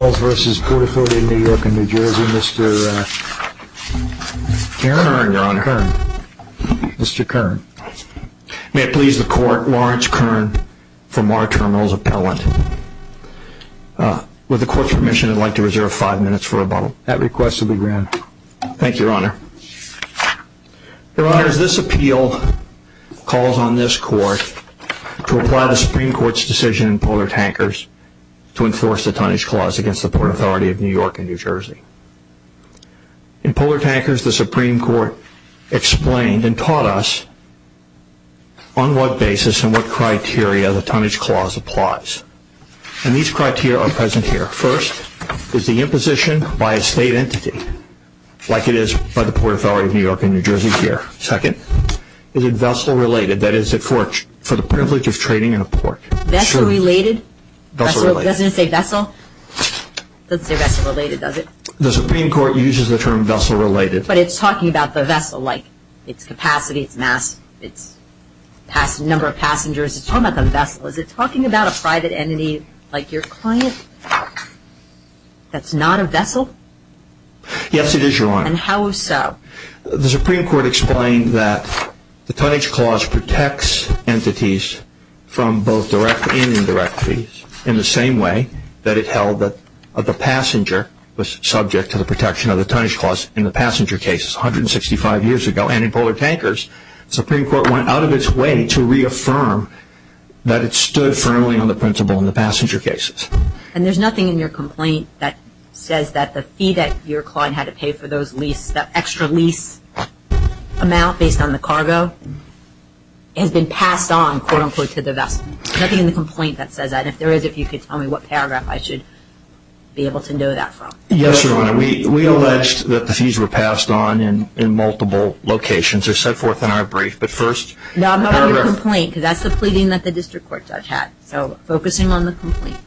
in New York and New Jersey, Mr. Karen Kern. May it please the Court, Lawrence Kern from our terminal's appellant. With the Court's permission, I'd like to reserve five minutes for rebuttal. That request will be granted. Thank you, Your Honor. Your Honor, as this appeal calls on this Court to apply the Supreme Court's decision in Polar Tankers to enforce the Tonnage Clause against the Port Authority of New York and New Jersey. In Polar Tankers, the Supreme Court explained and taught us on what basis and what criteria the Tonnage Clause applies. And these criteria are present here. First, is the imposition by a state entity, like it is by the Port Authority of New York and New Jersey here. Second, is it vessel-related, that is, for the privilege of trading in a port. Vessel-related? Vessel-related. Doesn't it say vessel? It doesn't say vessel-related, does it? The Supreme Court uses the term vessel-related. But it's talking about the vessel, like its capacity, its mass, its number of passengers. It's talking about the vessel. Is it talking about a private entity like your client that's not a vessel? Yes, it is, Your Honor. And how so? The Supreme Court explained that the held that the passenger was subject to the protection of the Tonnage Clause in the passenger cases 165 years ago. And in Polar Tankers, the Supreme Court went out of its way to reaffirm that it stood firmly on the principle in the passenger cases. And there's nothing in your complaint that says that the fee that your client had to pay for those leases, that extra lease amount based on the cargo, has been passed on, quote-unquote, to the vessel. There's no paragraph I should be able to know that from. Yes, Your Honor. We alleged that the fees were passed on in multiple locations. They're set forth in our brief. But first No, I'm not going to complain, because that's the pleading that the district court judge had. So focus in on the complaint.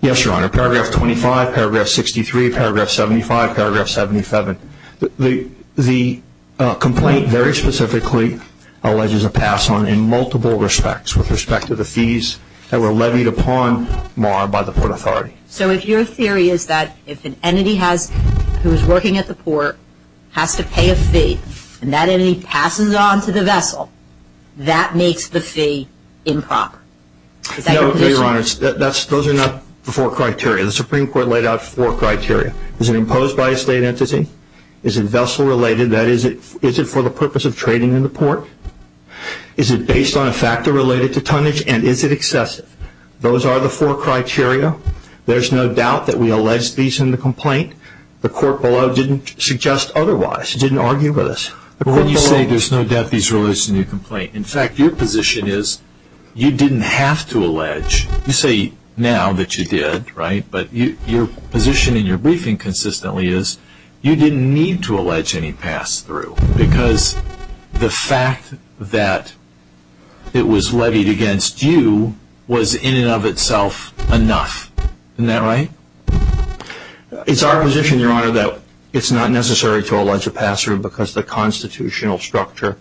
Yes, Your Honor. Paragraph 25, paragraph 63, paragraph 75, paragraph 77. The complaint very specifically alleges a pass on in multiple respects, with the port authority. So if your theory is that if an entity has, who is working at the port, has to pay a fee, and that entity passes it on to the vessel, that makes the fee improper. Is that your position? No, Your Honor. Those are not the four criteria. The Supreme Court laid out four criteria. Is it imposed by a state entity? Is it vessel related? That is, is it for the purpose of trading in the port? Is it based on a factor related to tonnage, and is it excessive? Those are the four criteria. There's no doubt that we alleged fees in the complaint. The court below didn't suggest otherwise. It didn't argue with us. When you say there's no doubt fees were alleged in your complaint, in fact, your position is you didn't have to allege. You say now that you did, right? But your position in your briefing consistently is you didn't need to allege any pass through, because the penalty against you was in and of itself enough. Isn't that right? It's our position, Your Honor, that it's not necessary to allege a pass through, because the constitutional structure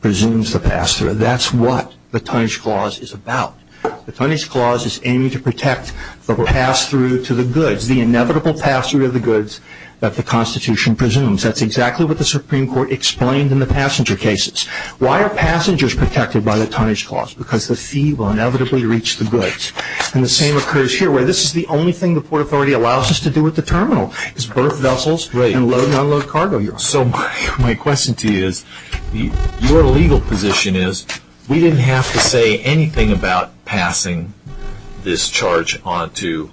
presumes the pass through. That's what the Tonnage Clause is about. The Tonnage Clause is aiming to protect the pass through to the goods, the inevitable pass through of the goods that the Constitution presumes. That's exactly what the Supreme Court explained in the passenger cases. Why are passengers protected by the Tonnage Clause? Because the fee will inevitably reach the goods. The same occurs here, where this is the only thing the Port Authority allows us to do at the terminal, is berth vessels and load and unload cargo. So my question to you is, your legal position is we didn't have to say anything about passing this charge on to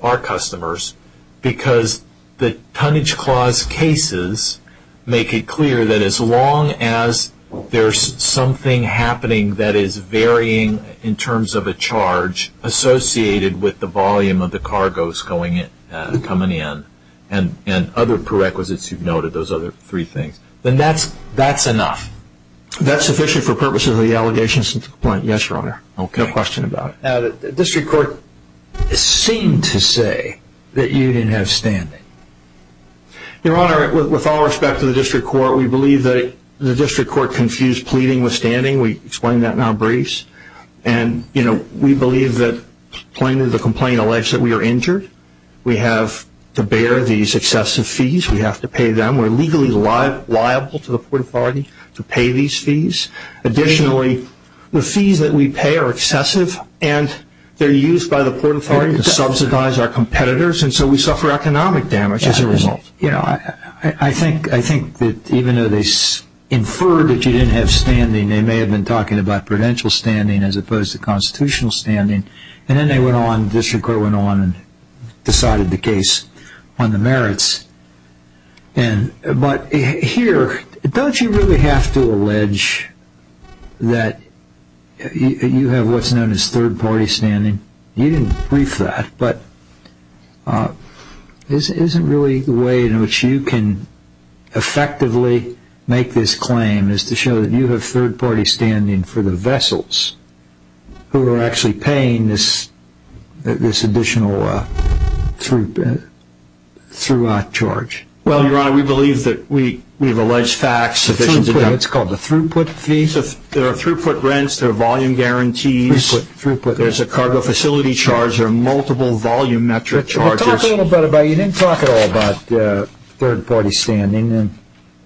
our customers, because the Tonnage Clause cases make it clear that as long as there's something happening that is varying in terms of a charge associated with the volume of the cargoes coming in, and other prerequisites you've noted, those other three things, then that's enough. That's sufficient for purposes of the allegations and the complaint. Yes, Your Honor. No question about it. The District Court seemed to say that you didn't have standing. Your Honor, with all respect to the District Court, we believe that the District Court confused pleading with standing. We explained that in our briefs. We believe that the complaint alleged that we are injured. We have to bear these excessive fees. We have to pay them. We are legally liable to the Port Authority to pay these The fees that we pay are excessive and they are used by the Port Authority to subsidize our competitors, and so we suffer economic damage as a result. I think that even though they inferred that you didn't have standing, they may have been talking about prudential standing as opposed to constitutional standing, and then they went on, the District Court went on and decided the case on the merits. But here, don't you really have to allege that you have what's known as third-party standing? You didn't brief that, but isn't really the way in which you can effectively make this claim is to show that you have third-party standing for the vessels who are actually paying this additional through-out charge? Well, Your Honor, we believe that we have alleged facts sufficient to tell you it's called the throughput fee. There are throughput rents. There are volume guarantees. There's a cargo facility charge. There are multiple volume metric charges. You didn't talk at all about third-party standing.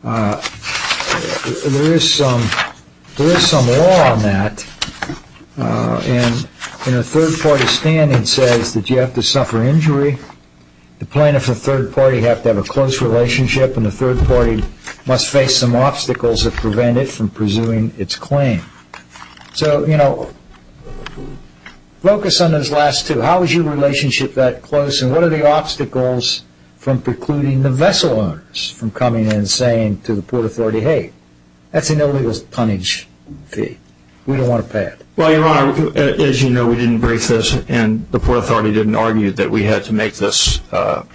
There is some law on that, and third-party standing says that you have to suffer injury. The plaintiff and third-party have to have a close relationship and the third-party must face some obstacles that prevent it from pursuing its claim. So, you know, focus on those last two. How is your relationship that close, and what are the obstacles from precluding the vessel owners from coming in and saying to the Port Authority, hey, that's an illegal punnage fee. We don't want to pay it. Well, Your Honor, as you know, we didn't brief this, and the Port Authority didn't argue that we had to make this argument.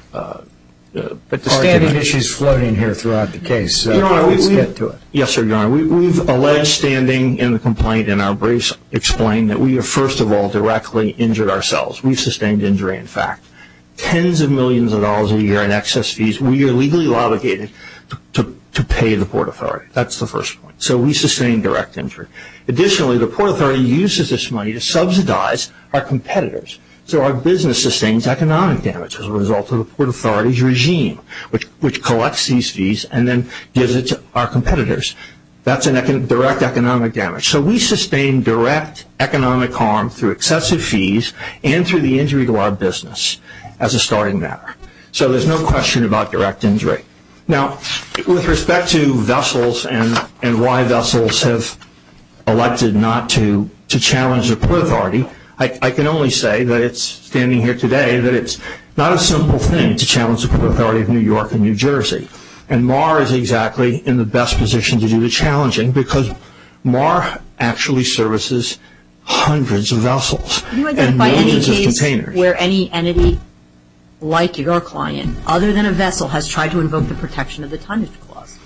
But the standing issue is floating here throughout the case, so let's get to it. Yes, sir, Your Honor. We've alleged standing in the complaint in our briefs explain that we have, first of all, directly injured ourselves. We've paid tens of millions of dollars a year in excess fees. We are legally obligated to pay the Port Authority. That's the first point. So we sustain direct injury. Additionally, the Port Authority uses this money to subsidize our competitors. So our business sustains economic damage as a result of the Port Authority's regime, which collects these fees and then gives it to our competitors. That's a direct economic damage. So we sustain direct economic harm through excessive fees and through the injury to our business as a starting matter. So there's no question about direct injury. Now, with respect to vessels and why vessels have elected not to challenge the Port Authority, I can only say that it's standing here today that it's not a simple thing to challenge the Port Authority of New York and New Jersey. And MAR is exactly in the best position to do the challenging because MAR actually services hundreds of vessels and millions of containers. Can you identify any case where any entity, like your client, other than a vessel, has tried to invoke the Protection of the Tundish Clause?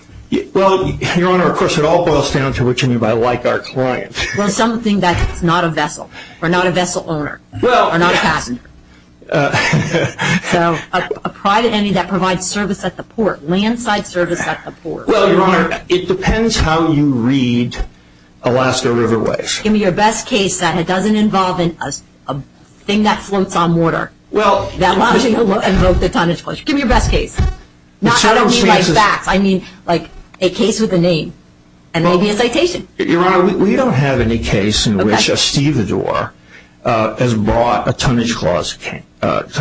Well, Your Honor, of course, it all boils down to which entity, but like our client. Well, something that's not a vessel or not a vessel owner or not a passenger. So a private entity that provides service at the port, landside service at the port. Well, Your Honor, it depends how you read Alaska Riverways. Give me your best case that it doesn't involve a thing that floats on water that allows you to invoke the Tundish Clause. Give me your best case. I don't mean like facts. I mean like a case with a name and maybe a citation. Your Honor, we don't have any case in which a stevedore has brought a Tundish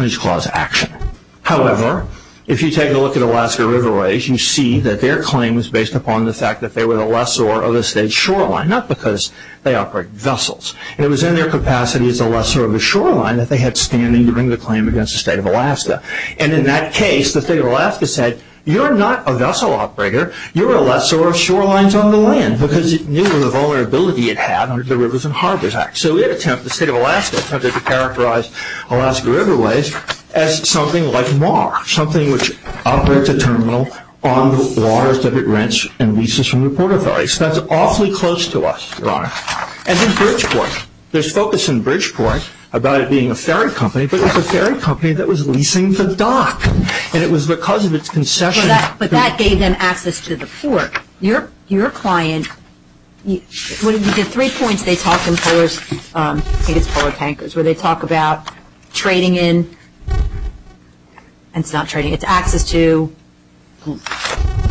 Clause action. However, if you take a look at Alaska Riverways, you see that their claim is based upon the fact that they were a lessor of a state shoreline, not because they operate vessels. It was in their capacity as a lessor of a shoreline that they had standing to bring the claim against the State of Alaska. And in that case, the State of Alaska said, you're not a vessel operator. You're a lessor of shorelines on the land because it knew the vulnerability it had under the Rivers and Harbors Act. So it attempted, the State of Alaska, attempted to characterize Alaska Riverways as something like MAR, something which operates a terminal on the waters that it rents and leases from the Port Authority. So that's awfully close to us, Your Honor. And then Bridgeport. There's focus in Bridgeport about it being a ferry company, but it was a ferry company that was leasing the dock. And it was because of its concession. But that gave them access to the port. Your client, the three points they talk in Polar Tankers, where they talk about trading in, and it's not trading, it's access to,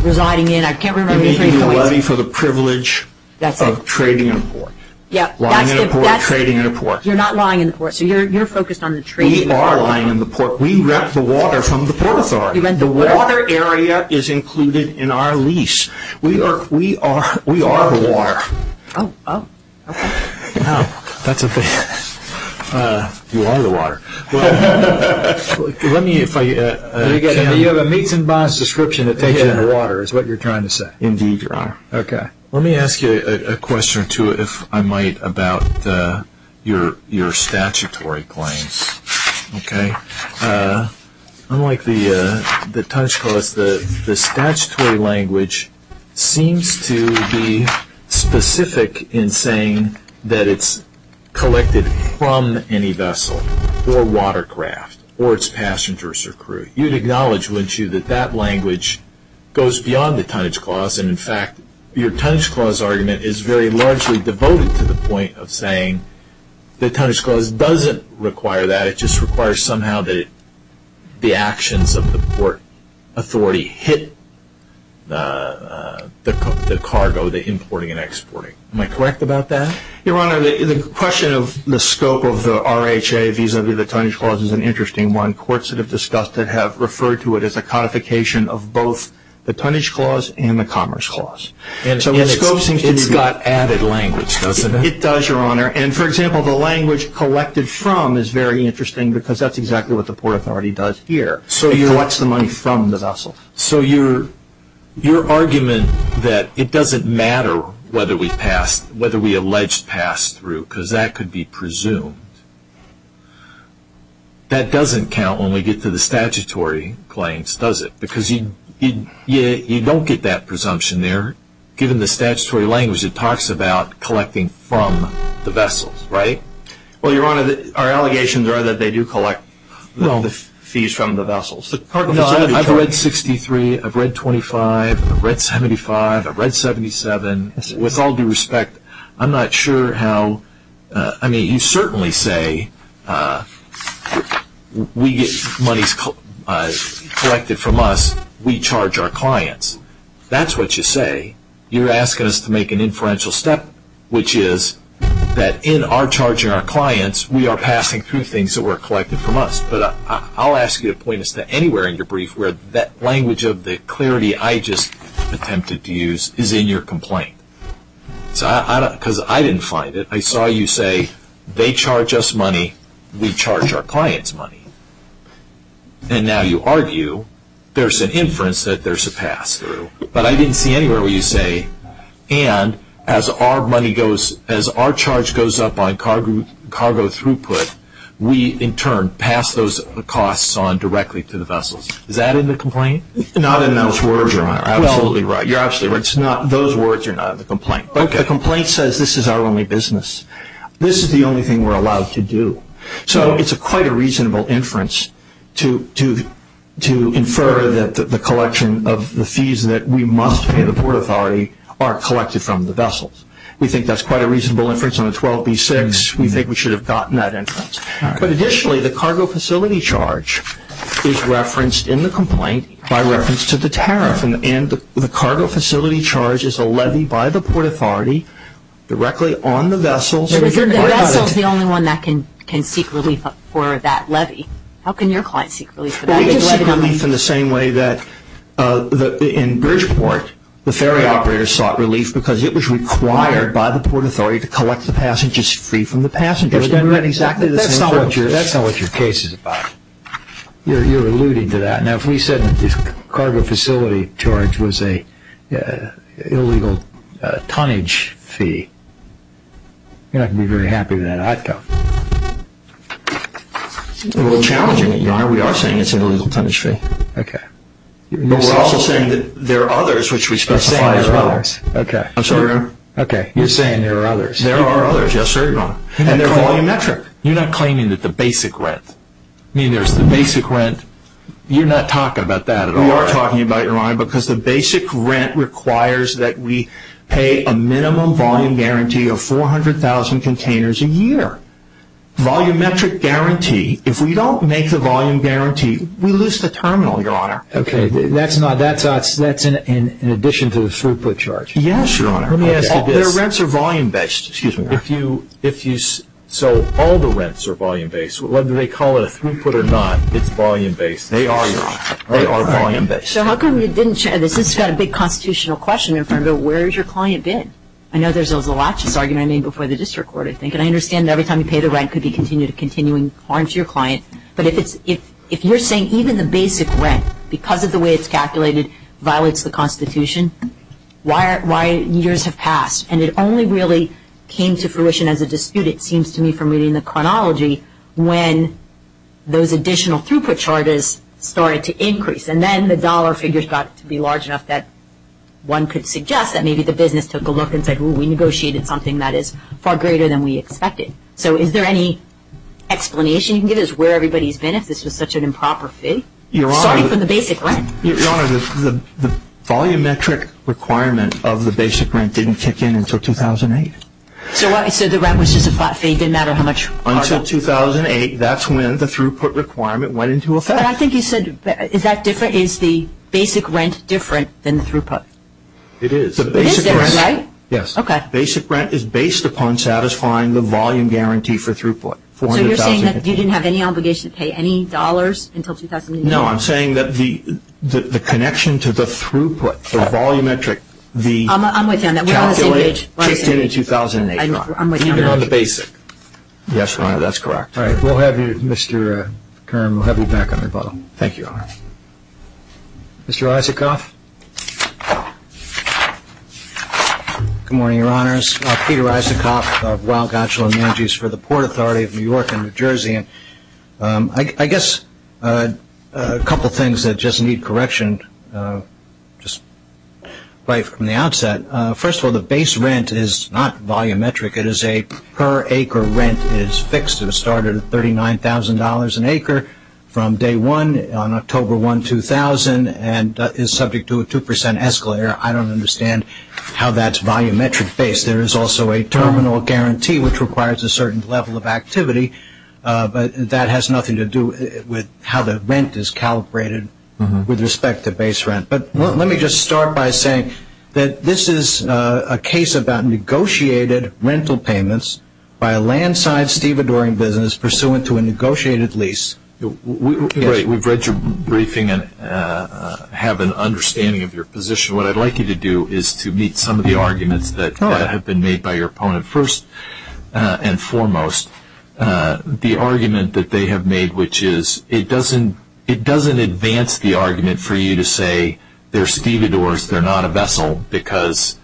residing in, I can't remember the three points. You're making a levy for the privilege of trading in a port. Yep. Lying in a port, trading in a port. You're not lying in the port. So you're focused on the trade. We are lying in the port. We rent the water from the Port Authority. You rent the water? The water area is included in our lease. We are, we are, we are the water. Oh, oh, okay. Now, that's a big, you are the water. Let me, if I can. You have a meets and bonds description that takes you into water, is what you're trying to say. Indeed, Your Honor. Okay. Let me ask you a question or two, if I might, about your statutory claims, okay? Unlike the Tunch Clause, the statutory language seems to be specific in saying that it's collected from any vessel or watercraft or its passengers or crew. You'd acknowledge, wouldn't you, that that language goes beyond the Tunch Clause, and in fact, your Tunch Clause argument is very largely devoted to the point of saying the Tunch Clause doesn't require that. It just requires somehow that the actions of the Port Authority hit the cargo, the importing and exporting. Am I correct about that? Your Honor, the question of the scope of the RHA vis-a-vis the Tunch Clause is an interesting one. Courts that have discussed it have referred to it as a codification of both the Tunch Clause and the Commerce Clause. And its scope seems to be... It's got added language, doesn't it? It does, Your Honor. And, for example, the language collected from is very interesting because that's exactly what the Port Authority does here. It collects the money from the vessel. So your argument that it doesn't matter whether we alleged pass-through, because that could be presumed, that doesn't count when we get to the statutory claims, does it? Because you don't get that presumption there. Given the statutory language, it talks about collecting from the vessels, right? Well, Your Honor, our allegations are that they do collect the fees from the vessels. I've read 63, I've read 25, I've read 75, I've read 77. With all due respect, I'm not sure how... I mean, you certainly say we get money collected from us, we charge our clients. That's what you say. You're asking us to make an inferential step, which is that in our charging our clients, we are passing through things that were collected from us. But I'll ask you to point us to anywhere in your brief where that language of the clarity I just attempted to use is in your complaint. Because I didn't find it. I saw you say, they charge us money, we charge our clients money. And now you argue there's an inference that there's a pass-through. But I didn't see anywhere where you say, and as our charge goes up on directly to the vessels. Is that in the complaint? Not in those words, Your Honor. You're absolutely right. Those words are not in the complaint. The complaint says this is our only business. This is the only thing we're allowed to do. So it's quite a reasonable inference to infer that the collection of the fees that we must pay the Port Authority are collected from the vessels. We think that's quite a reasonable inference on the 12b-6. We think we should have gotten that inference. But additionally, the cargo facility charge is referenced in the complaint by reference to the tariff. And the cargo facility charge is a levy by the Port Authority directly on the vessels. But isn't the vessels the only one that can seek relief for that levy? How can your client seek relief for that? They can seek relief in the same way that in Bridgeport, the ferry operators sought relief because it was required by the Port Authority to collect the passengers free from the passengers. That's not what your case is about. You're alluding to that. Now, if we said that the cargo facility charge was an illegal tonnage fee, you're not going to be very happy with that outcome. We're challenging it, Your Honor. We are saying it's an illegal tonnage fee. Okay. But we're also saying that there are others which we specify as well. You're saying there are others. I'm sorry, Your Honor. Okay. You're saying there are others. There are others. Yes, sir, Your Honor. And they're volumetric. You're not claiming that the basic rent. I mean, there's the basic rent. You're not talking about that at all. We are talking about it, Your Honor, because the basic rent requires that we pay a minimum volume guarantee of 400,000 containers a year. Volumetric guarantee. If we don't make the volume guarantee, we lose the terminal, Your Honor. Okay. That's in addition to the throughput charge. Yes, Your Honor. Let me ask you this. Their rents are volume-based. Excuse me, Your Honor. So all the rents are volume-based. Whether they call it a throughput or not, it's volume-based. They are volume-based. So how come you didn't share this? This has got a big constitutional question in front of it. Where has your client been? I know there's always a laches argument before the district court, I think. And I understand that every time you pay the rent, it could be continuing harm to your client. But if you're saying even the basic rent, because of the way it's calculated, violates the Constitution, why years have passed? And it only really came to fruition as a dispute, it seems to me, from reading the chronology, when those additional throughput charges started to increase. And then the dollar figures got to be large enough that one could suggest that maybe the business took a look and said, well, we negotiated something that is far greater than we expected. So is there any explanation you can give us where everybody's been if this was such an improper fit? Your Honor. Starting from the basic rent. Your Honor, the volumetric requirement of the basic rent didn't kick in until 2008. So the rent was just a flat fee? It didn't matter how much? Until 2008, that's when the throughput requirement went into effect. But I think you said, is that different? Is the basic rent different than the throughput? It is. It is there, right? Yes. Okay. Basic rent is based upon satisfying the volume guarantee for throughput. So you're saying that you didn't have any obligation to pay any dollars until 2008? No, I'm saying that the connection to the throughput, the volumetric, the calculate kicked in in 2008. I'm with you on that. I'm with you on the basic. Yes, Your Honor, that's correct. All right. We'll have you, Mr. Kern, we'll have you back on rebuttal. Thank you, Your Honor. Mr. Isikoff. Good morning, Your Honors. Peter Isikoff of Weill Gotchel and Manjis for the Port Authority of New York and New Jersey. I guess a couple things that just need correction, just right from the outset. First of all, the base rent is not volumetric. It is a per acre rent. It is fixed. It started at $39,000 an acre from day one on October 1, 2000, and is subject to a 2% escalator. I don't understand how that's volumetric base. There is also a terminal guarantee, which requires a certain level of activity, but that has nothing to do with how the rent is calibrated with respect to base rent. But let me just start by saying that this is a case about negotiated rental payments by a land side stevedoring business pursuant to a negotiated lease. We've read your briefing and have an understanding of your position. What I'd like you to do is to meet some of the arguments that have been made by your opponent. First and foremost, the argument that they have made, which is it doesn't advance the argument for you to say they're stevedores, they're not a vessel, because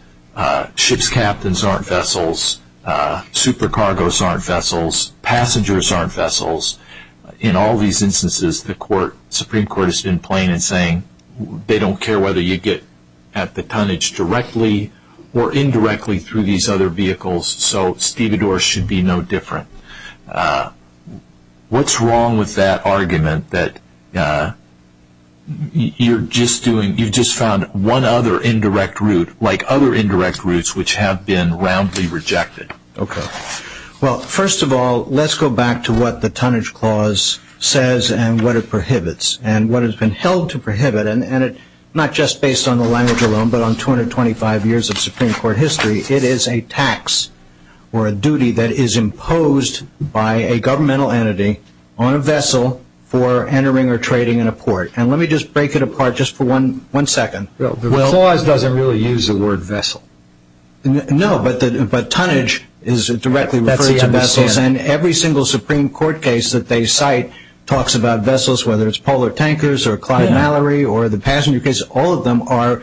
ship's captains aren't vessels, supercargoes aren't vessels, passengers aren't vessels. In all these instances, the Supreme Court has been playing and saying they don't care whether you get at the tonnage directly or indirectly through these other vehicles, so stevedores should be no different. What's wrong with that argument that you've just found one other indirect route, like other indirect routes which have been roundly rejected? First of all, let's go back to what the tonnage clause says and what it prohibits, and what has been held to prohibit, and not just based on the language alone, but on 225 years of Supreme Court history. It is a tax or a duty that is imposed by a governmental entity on a vessel for entering or trading in a port. Let me just break it apart just for one second. The clause doesn't really use the word vessel. No, but tonnage is directly referred to vessels, and every single Supreme Court case that they cite talks about vessels, whether it's polar tankers or Clyde Mallory or the passenger case. All of them are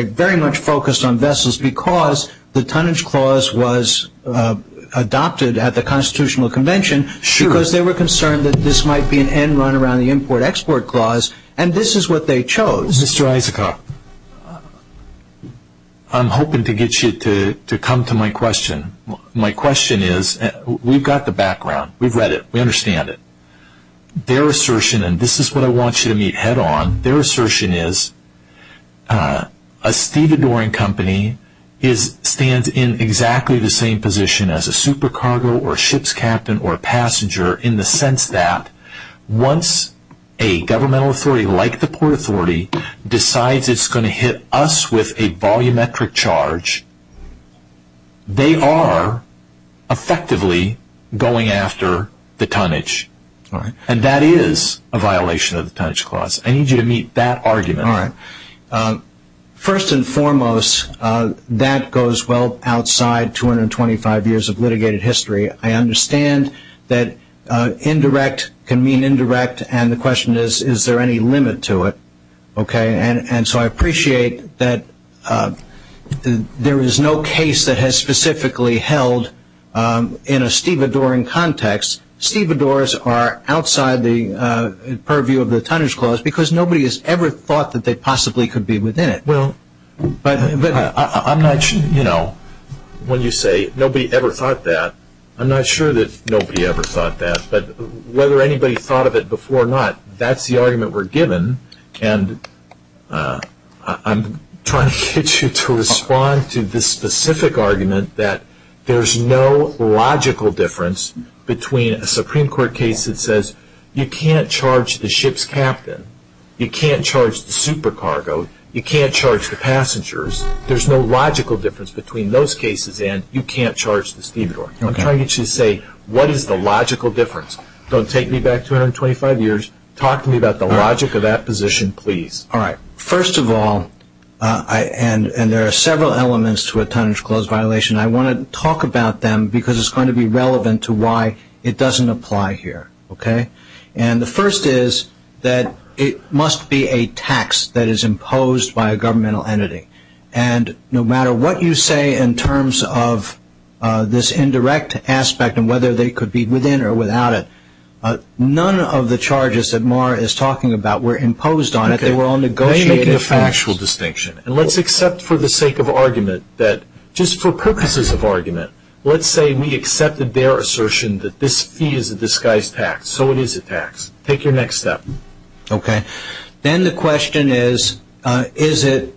very much focused on vessels because the tonnage clause was adopted at the Constitutional Convention because they were concerned that this might be an end run around the import-export clause, and this is what they chose. Mr. Isaacoff, I'm hoping to get you to come to my question. My question is, we've got the background. We've read it. We understand it. Their assertion, and this is what I want you to meet head on, their assertion is a stevedoring company stands in exactly the same position as a super cargo or a ship's captain or a passenger in the sense that once a governmental authority like the Port Authority decides it's going to hit us with a volumetric charge, they are effectively going after the tonnage, and that is a violation of the tonnage clause. I need you to meet that argument. All right. First and foremost, that goes well outside 225 years of litigated history. I understand that indirect can mean indirect, and the question is, is there any limit to it? Okay, and so I appreciate that there is no case that has specifically held in a stevedoring context. Stevedores are outside the purview of the tonnage clause because nobody has ever thought that they possibly could be within it. Well, but I'm not sure, you know, when you say nobody ever thought that, I'm not sure that nobody ever thought that, but whether anybody thought of it before or not, that's the argument we're given, and I'm trying to get you to respond to this specific argument that there's no logical difference between a Supreme Court case that says you can't charge the ship's captain, you can't charge the super cargo, you can't charge the passengers. There's no logical difference between those cases and you can't charge the stevedore. I'm trying to get you to say what is the logical difference. Don't take me back 225 years. Talk to me about the logic of that position, please. All right. First of all, and there are several elements to a tonnage clause violation, I want to talk about them because it's going to be relevant to why it doesn't apply here, okay? And the first is that it must be a tax that is imposed by a governmental entity, and no matter what you say in terms of this indirect aspect and whether they could be within or without it, none of the charges that Mara is talking about were imposed on it. They were all negotiated. Okay. I'm making a factual distinction, and let's accept for the sake of argument that just for purposes of argument, let's say we accepted their assertion that this fee is a disguised tax. So it is a tax. Take your next step. Okay. Then the question is, is it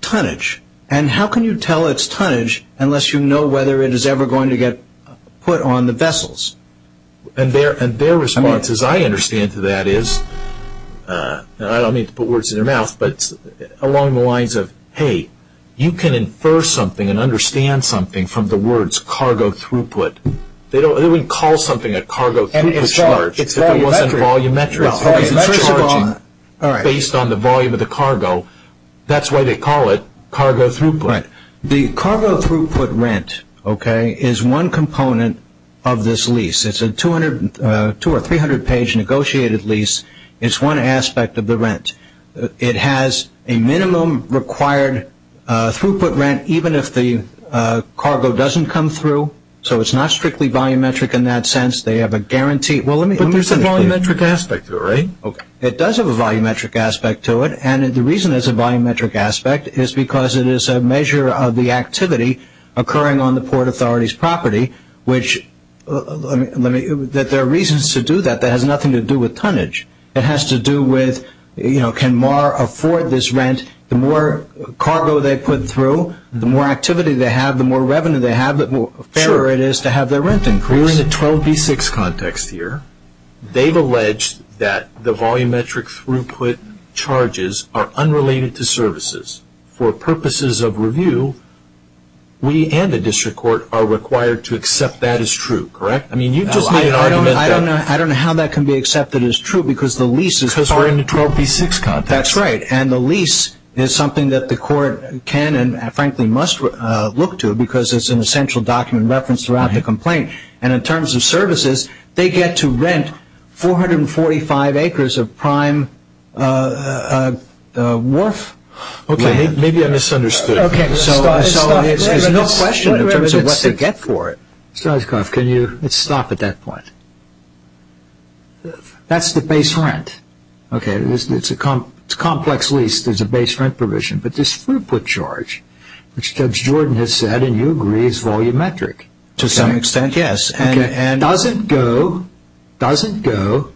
tonnage? And how can you tell it's tonnage unless you know whether it is ever going to get put on the vessels? And their response, as I understand it, to that is, and I don't mean to put words in their mouth, but along the lines of, hey, you can infer something and understand something from the words cargo throughput. They wouldn't call something a cargo throughput charge if it wasn't volumetric. Well, first of all, based on the volume of the cargo, that's why they call it cargo throughput. Right. The cargo throughput rent, okay, is one component of this lease. It's a 200- or 300-page negotiated lease. It's one aspect of the rent. It has a minimum required throughput rent even if the cargo doesn't come through. So it's not strictly volumetric in that sense. They have a guarantee. But there's a volumetric aspect to it, right? Okay. It does have a volumetric aspect to it, and the reason it has a volumetric aspect is because it is a measure of the activity occurring on the Port Authority's property, which there are reasons to do that that has nothing to do with tonnage. It has to do with, you know, can MAR afford this rent? The more cargo they put through, the more activity they have, the more revenue they have, the fairer it is to have their rent increased. We're in a 12b6 context here. They've alleged that the volumetric throughput charges are unrelated to services. For purposes of review, we and the district court are required to accept that as true, correct? I mean, you've just made an argument that. I don't know how that can be accepted as true because the lease is part of it. Because we're in a 12b6 context. That's right, and the lease is something that the court can and, frankly, must look to because it's an essential document referenced throughout the complaint. And in terms of services, they get to rent 445 acres of prime wharf land. Okay, maybe I misunderstood. Okay, so there's no question in terms of what they get for it. Stolzkoff, can you stop at that point? That's the base rent. Okay, it's a complex lease. There's a base rent provision. But this throughput charge, which Judge Jordan has said, and you agree, is volumetric. To some extent, yes. It doesn't go to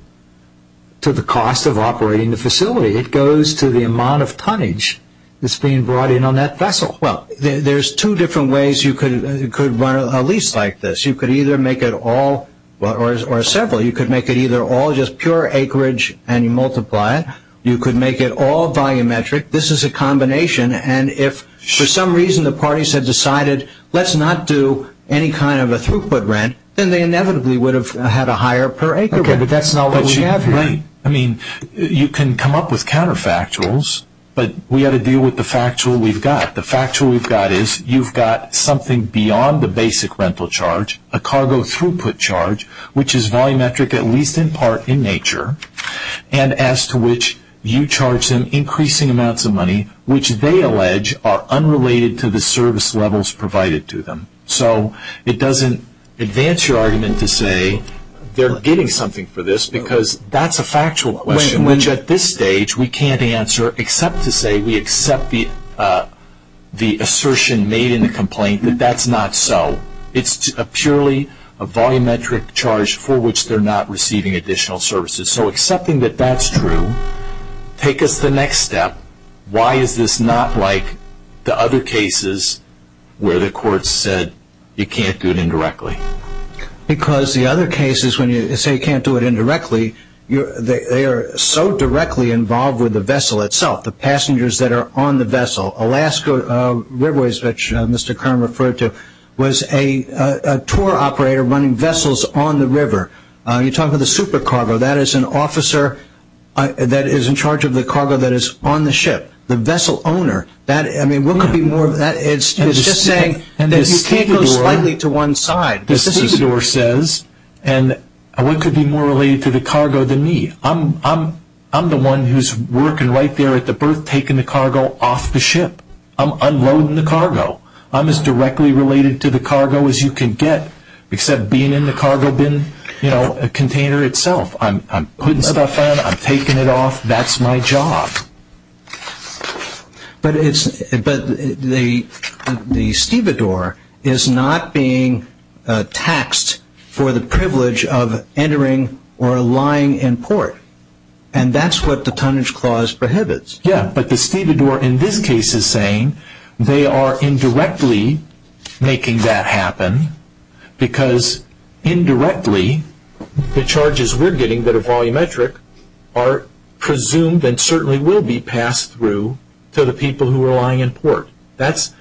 the cost of operating the facility. It goes to the amount of tonnage that's being brought in on that vessel. Well, there's two different ways you could run a lease like this. You could either make it all or several. You could make it either all just pure acreage and you multiply it. You could make it all volumetric. This is a combination. And if for some reason the parties have decided let's not do any kind of a throughput rent, then they inevitably would have had a higher per acre rate. Okay, but that's not what we have here. I mean, you can come up with counterfactuals, but we've got to deal with the factual we've got. The factual we've got is you've got something beyond the basic rental charge, a cargo throughput charge, which is volumetric at least in part in nature, and as to which you charge them increasing amounts of money, which they allege are unrelated to the service levels provided to them. So it doesn't advance your argument to say they're getting something for this because that's a factual question, which at this stage we can't answer except to say we accept the assertion made in the complaint that that's not so. It's purely a volumetric charge for which they're not receiving additional services. So accepting that that's true, take us the next step. Why is this not like the other cases where the court said you can't do it indirectly? Because the other cases when you say you can't do it indirectly, they are so directly involved with the vessel itself, the passengers that are on the vessel. Alaska Riverways, which Mr. Kern referred to, was a tour operator running vessels on the river. You talk about the supercargo. That is an officer that is in charge of the cargo that is on the ship, the vessel owner. I mean, what could be more of that? It's just saying that you can't go slightly to one side. And what could be more related to the cargo than me? I'm the one who's working right there at the berth taking the cargo off the ship. I'm unloading the cargo. I'm as directly related to the cargo as you can get, except being in the cargo bin container itself. I'm putting stuff on. I'm taking it off. That's my job. But the stevedore is not being taxed for the privilege of entering or lying in port, and that's what the tonnage clause prohibits. Yeah, but the stevedore in this case is saying they are indirectly making that happen because indirectly the charges we're getting that are volumetric are presumed and certainly will be passed through to the people who are lying in port. That's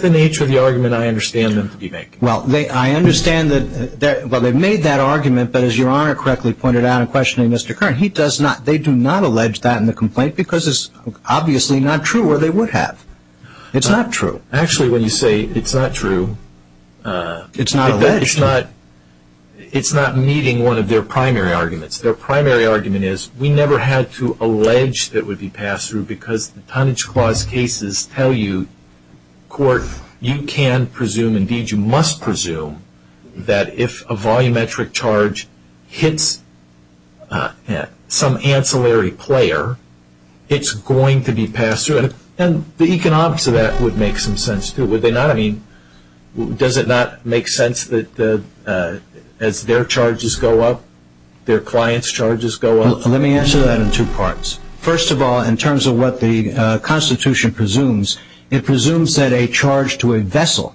the nature of the argument I understand them to be making. Well, I understand that they've made that argument, but as Your Honor correctly pointed out in questioning Mr. Curran, they do not allege that in the complaint because it's obviously not true or they would have. It's not true. Actually, when you say it's not true, it's not meeting one of their primary arguments. Their primary argument is we never had to allege that it would be passed through because the tonnage clause cases tell you, court, you can presume, indeed you must presume, that if a volumetric charge hits some ancillary player, it's going to be passed through. And the economics of that would make some sense too, would they not? I mean, does it not make sense that as their charges go up, their clients' charges go up? Let me answer that in two parts. First of all, in terms of what the Constitution presumes, it presumes that a charge to a vessel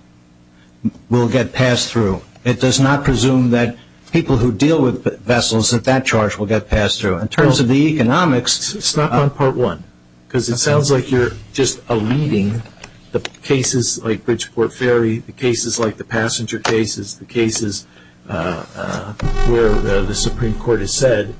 will get passed through. It does not presume that people who deal with vessels, that that charge will get passed through. It's not part one because it sounds like you're just alluding the cases like Bridgeport Ferry, the cases like the passenger cases, the cases where the Supreme Court has said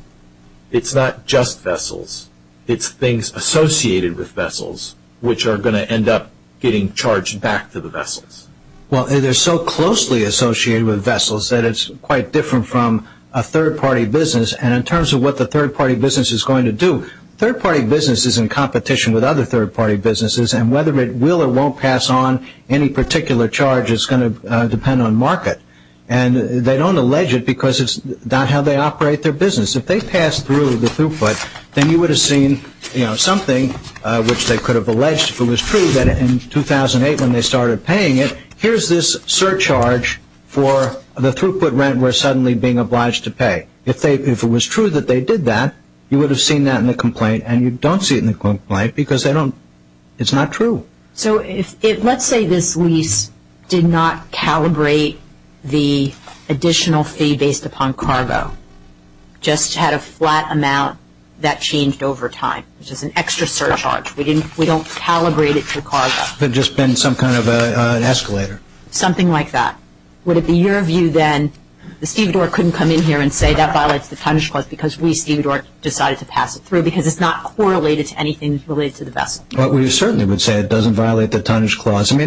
it's not just vessels. It's things associated with vessels which are going to end up getting charged back to the vessels. Well, they're so closely associated with vessels that it's quite different from a third-party business. And in terms of what the third-party business is going to do, third-party business is in competition with other third-party businesses, and whether it will or won't pass on any particular charge is going to depend on market. And they don't allege it because it's not how they operate their business. If they pass through the throughput, then you would have seen something which they could have alleged, if it was true, that in 2008 when they started paying it, here's this surcharge for the throughput rent we're suddenly being obliged to pay. If it was true that they did that, you would have seen that in the complaint, and you don't see it in the complaint because it's not true. So let's say this lease did not calibrate the additional fee based upon cargo, just had a flat amount that changed over time, which is an extra surcharge. We don't calibrate it to cargo. It would have just been some kind of an escalator. Something like that. Would it be your view, then, that Steve Doerr couldn't come in here and say that violates the tonnage clause because we, Steve Doerr, decided to pass it through because it's not correlated to anything related to the vessel? We certainly would say it doesn't violate the tonnage clause. So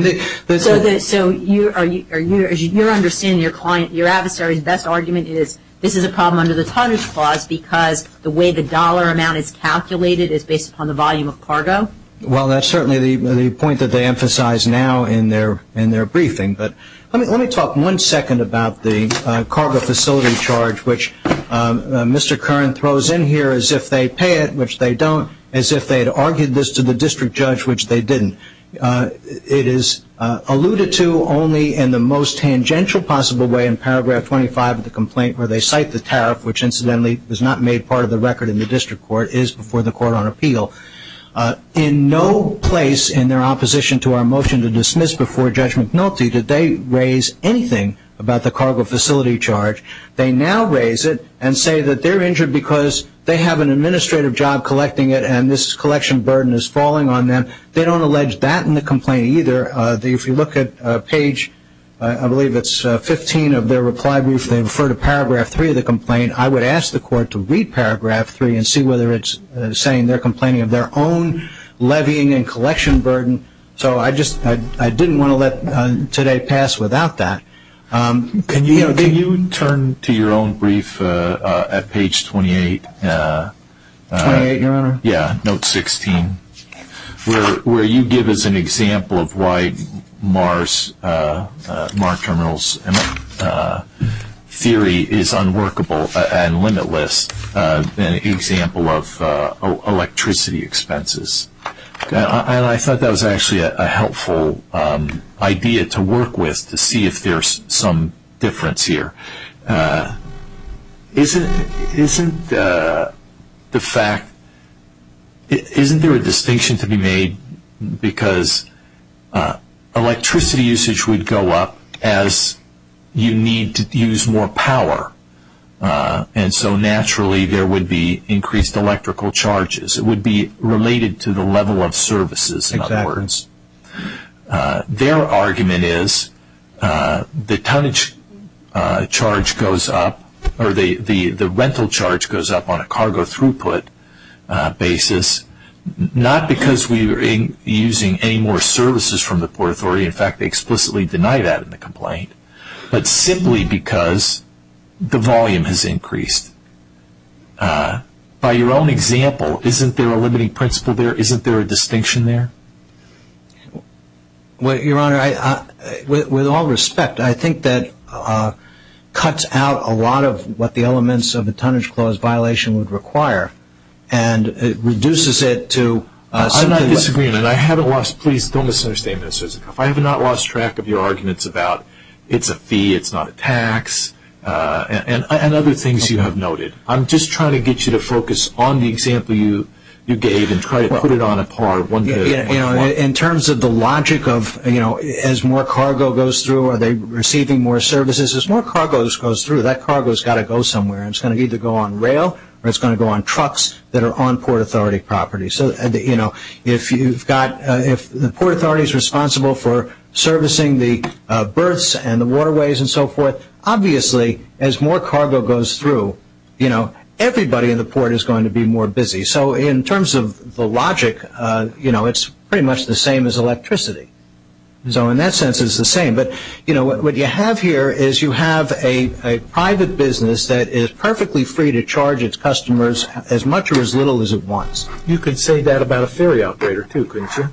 you're understanding your adversary's best argument is this is a problem under the tonnage clause because the way the dollar amount is calculated is based upon the volume of cargo? Well, that's certainly the point that they emphasize now in their briefing. But let me talk one second about the cargo facility charge, which Mr. Curran throws in here as if they pay it, which they don't, as if they had argued this to the district judge, which they didn't. It is alluded to only in the most tangential possible way in paragraph 25 of the complaint where they cite the tariff, which, incidentally, was not made part of the record in the district court, is before the court on appeal. In no place in their opposition to our motion to dismiss before Judge McNulty did they raise anything about the cargo facility charge. They now raise it and say that they're injured because they have an administrative job collecting it and this collection burden is falling on them. They don't allege that in the complaint either. If you look at page, I believe it's 15 of their reply brief, they refer to paragraph 3 of the complaint. I would ask the court to read paragraph 3 and see whether it's saying they're complaining of their own levying and collection burden. So I didn't want to let today pass without that. Can you turn to your own brief at page 28? 28, Your Honor? Yeah, note 16. Where you give us an example of why Mar Terminal's theory is unworkable and limitless, an example of electricity expenses. I thought that was actually a helpful idea to work with to see if there's some difference here. Isn't there a distinction to be made because electricity usage would go up as you need to use more power and so naturally there would be increased electrical charges. It would be related to the level of services, in other words. Their argument is the tonnage charge goes up, or the rental charge goes up on a cargo throughput basis. Not because we are using any more services from the Port Authority. In fact, they explicitly deny that in the complaint. But simply because the volume has increased. By your own example, isn't there a limiting principle there? Isn't there a distinction there? Your Honor, with all respect, I think that cuts out a lot of what the elements of the Tonnage Clause violation would require. And it reduces it to something. I'm not disagreeing. And I haven't lost, please don't misunderstand me. I have not lost track of your arguments about it's a fee, it's not a tax, and other things you have noted. I'm just trying to get you to focus on the example you gave and try to put it on a par. In terms of the logic of as more cargo goes through, are they receiving more services? As more cargo goes through, that cargo has got to go somewhere. It's going to either go on rail or it's going to go on trucks that are on Port Authority property. If the Port Authority is responsible for servicing the berths and the waterways and so forth, obviously as more cargo goes through, everybody in the port is going to be more busy. So in terms of the logic, it's pretty much the same as electricity. So in that sense it's the same. But what you have here is you have a private business that is perfectly free to charge its customers as much or as little as it wants. You could say that about a ferry operator too, couldn't you?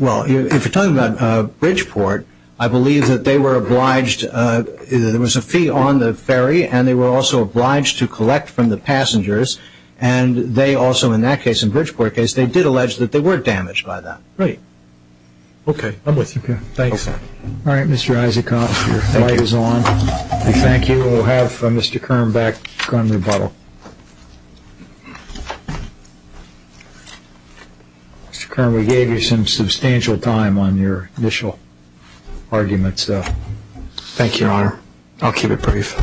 Well, if you're talking about Bridgeport, I believe that they were obliged. There was a fee on the ferry and they were also obliged to collect from the passengers. And they also, in that case, in the Bridgeport case, they did allege that they were damaged by that. Right. Okay. I'm with you. Thanks. All right, Mr. Isaacoff, your time is on. Thank you. We'll have Mr. Kern back on rebuttal. Mr. Kern, we gave you some substantial time on your initial arguments. Thank you, Your Honor. I'll keep it brief.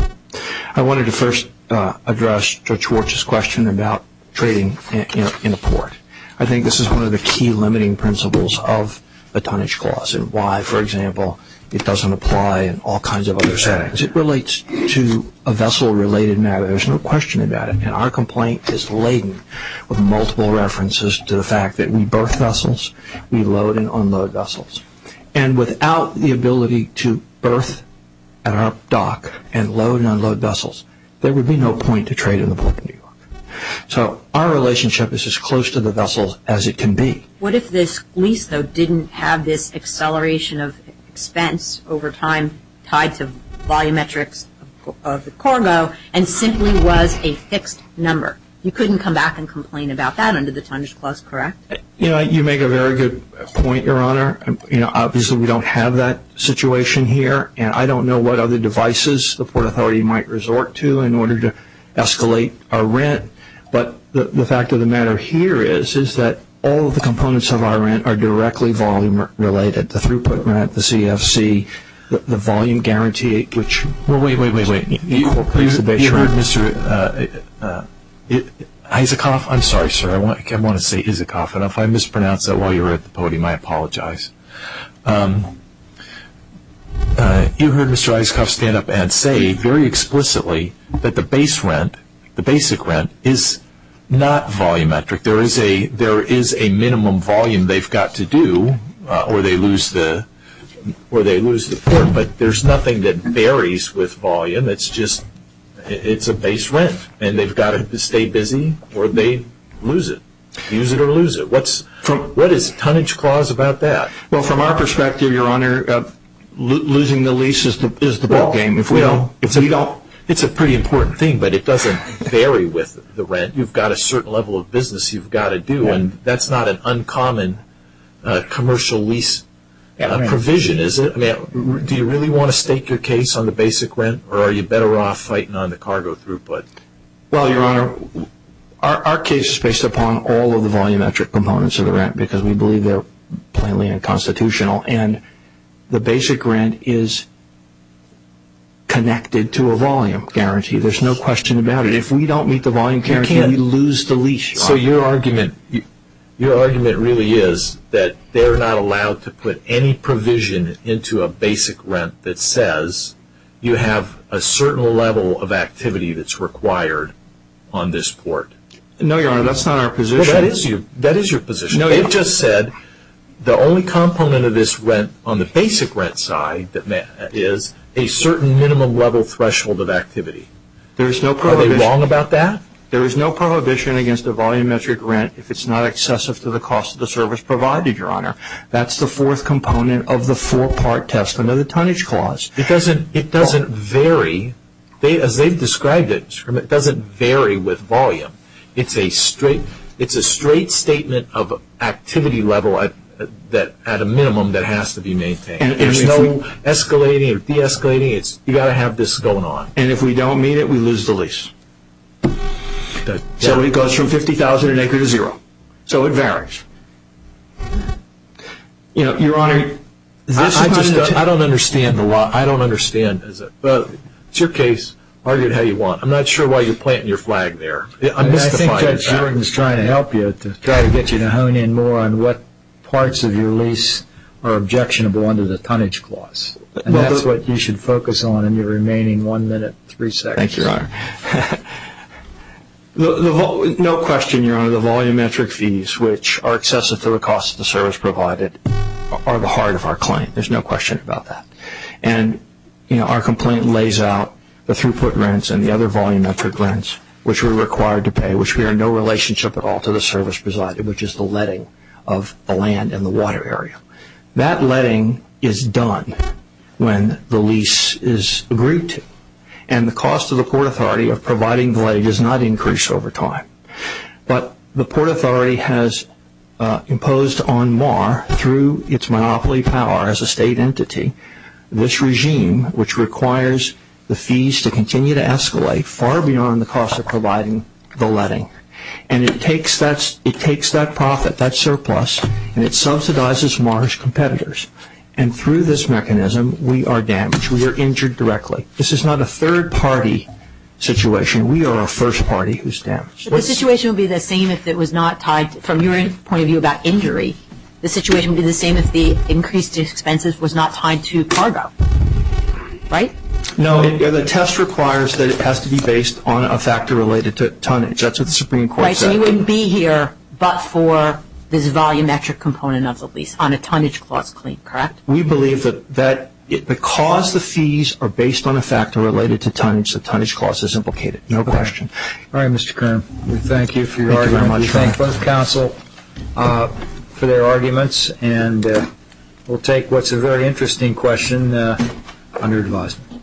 I wanted to first address Judge Warch's question about trading in a port. I think this is one of the key limiting principles of a tonnage clause and why, for example, it doesn't apply in all kinds of other settings. It relates to a vessel-related matter. There's no question about it. Our complaint is laden with multiple references to the fact that we berth vessels, we load and unload vessels. And without the ability to berth at our dock and load and unload vessels, there would be no point to trade in the Port of New York. So our relationship is as close to the vessels as it can be. What if this lease, though, didn't have this acceleration of expense over time tied to volumetrics of the cargo and simply was a fixed number? You couldn't come back and complain about that under the tonnage clause, correct? You make a very good point, Your Honor. Obviously, we don't have that situation here, and I don't know what other devices the Port Authority might resort to in order to escalate our rent. But the fact of the matter here is that all of the components of our rent are directly volume-related, the throughput mat, the CFC, the volume guarantee. Wait, wait, wait. You heard Mr. Isikoff. I'm sorry, sir. I want to say Isikoff, and if I mispronounce that while you're at the podium, I apologize. You heard Mr. Isikoff stand up and say very explicitly that the base rent, the basic rent, is not volumetric. There is a minimum volume they've got to do or they lose the port, but there's nothing that varies with volume. It's just it's a base rent, and they've got to stay busy or they lose it. Use it or lose it. What is the tonnage clause about that? Well, from our perspective, Your Honor, losing the lease is the ballgame. It's a pretty important thing, but it doesn't vary with the rent. You've got a certain level of business you've got to do, and that's not an uncommon commercial lease provision, is it? Do you really want to stake your case on the basic rent, or are you better off fighting on the cargo throughput? Well, Your Honor, our case is based upon all of the volumetric components of the rent because we believe they're plainly unconstitutional, and the basic rent is connected to a volume guarantee. There's no question about it. If we don't meet the volume guarantee, we lose the lease, Your Honor. So your argument really is that they're not allowed to put any provision into a basic rent that says you have a certain level of activity that's required on this port. No, Your Honor, that's not our position. That is your position. It just said the only component of this rent on the basic rent side is a certain minimum level threshold of activity. Are they wrong about that? There is no prohibition against a volumetric rent if it's not excessive to the cost of the service provided, Your Honor. That's the fourth component of the four-part testament of the tonnage clause. It doesn't vary. As they've described it, it doesn't vary with volume. It's a straight statement of activity level at a minimum that has to be maintained. There's no escalating or deescalating. You've got to have this going on. And if we don't meet it, we lose the lease. So it goes from $50,000 an acre to zero. So it varies. Your Honor, I don't understand the law. I don't understand it. It's your case. Argue it how you want. I'm not sure why you're planting your flag there. I think Judge Jordan is trying to help you to try to get you to hone in more on what parts of your lease are objectionable under the tonnage clause. And that's what you should focus on in your remaining one minute, three seconds. Thank you, Your Honor. No question, Your Honor, the volumetric fees, which are excessive to the cost of the service provided, are the heart of our claim. There's no question about that. And our complaint lays out the throughput rents and the other volumetric rents, which we're required to pay, which we are in no relationship at all to the service provided, which is the letting of the land and the water area. That letting is done when the lease is agreed to. And the cost of the Port Authority of providing the letting does not increase over time. But the Port Authority has imposed on MAR, through its monopoly power as a state entity, this regime which requires the fees to continue to escalate far beyond the cost of providing the letting. And it takes that profit, that surplus, and it subsidizes MAR's competitors. And through this mechanism, we are damaged. We are injured directly. This is not a third-party situation. We are a first party who's damaged. But the situation would be the same if it was not tied, from your point of view about injury, the situation would be the same if the increased expenses was not tied to cargo, right? No, the test requires that it has to be based on a factor related to tonnage. That's what the Supreme Court said. Right, so you wouldn't be here but for this volumetric component of the lease on a tonnage cost claim, correct? We believe that because the fees are based on a factor related to tonnage, the tonnage cost is implicated. No question. All right, Mr. Kern. We thank you for your argument. Thank you very much. We thank both counsel for their arguments. And we'll take what's a very interesting question under advisement.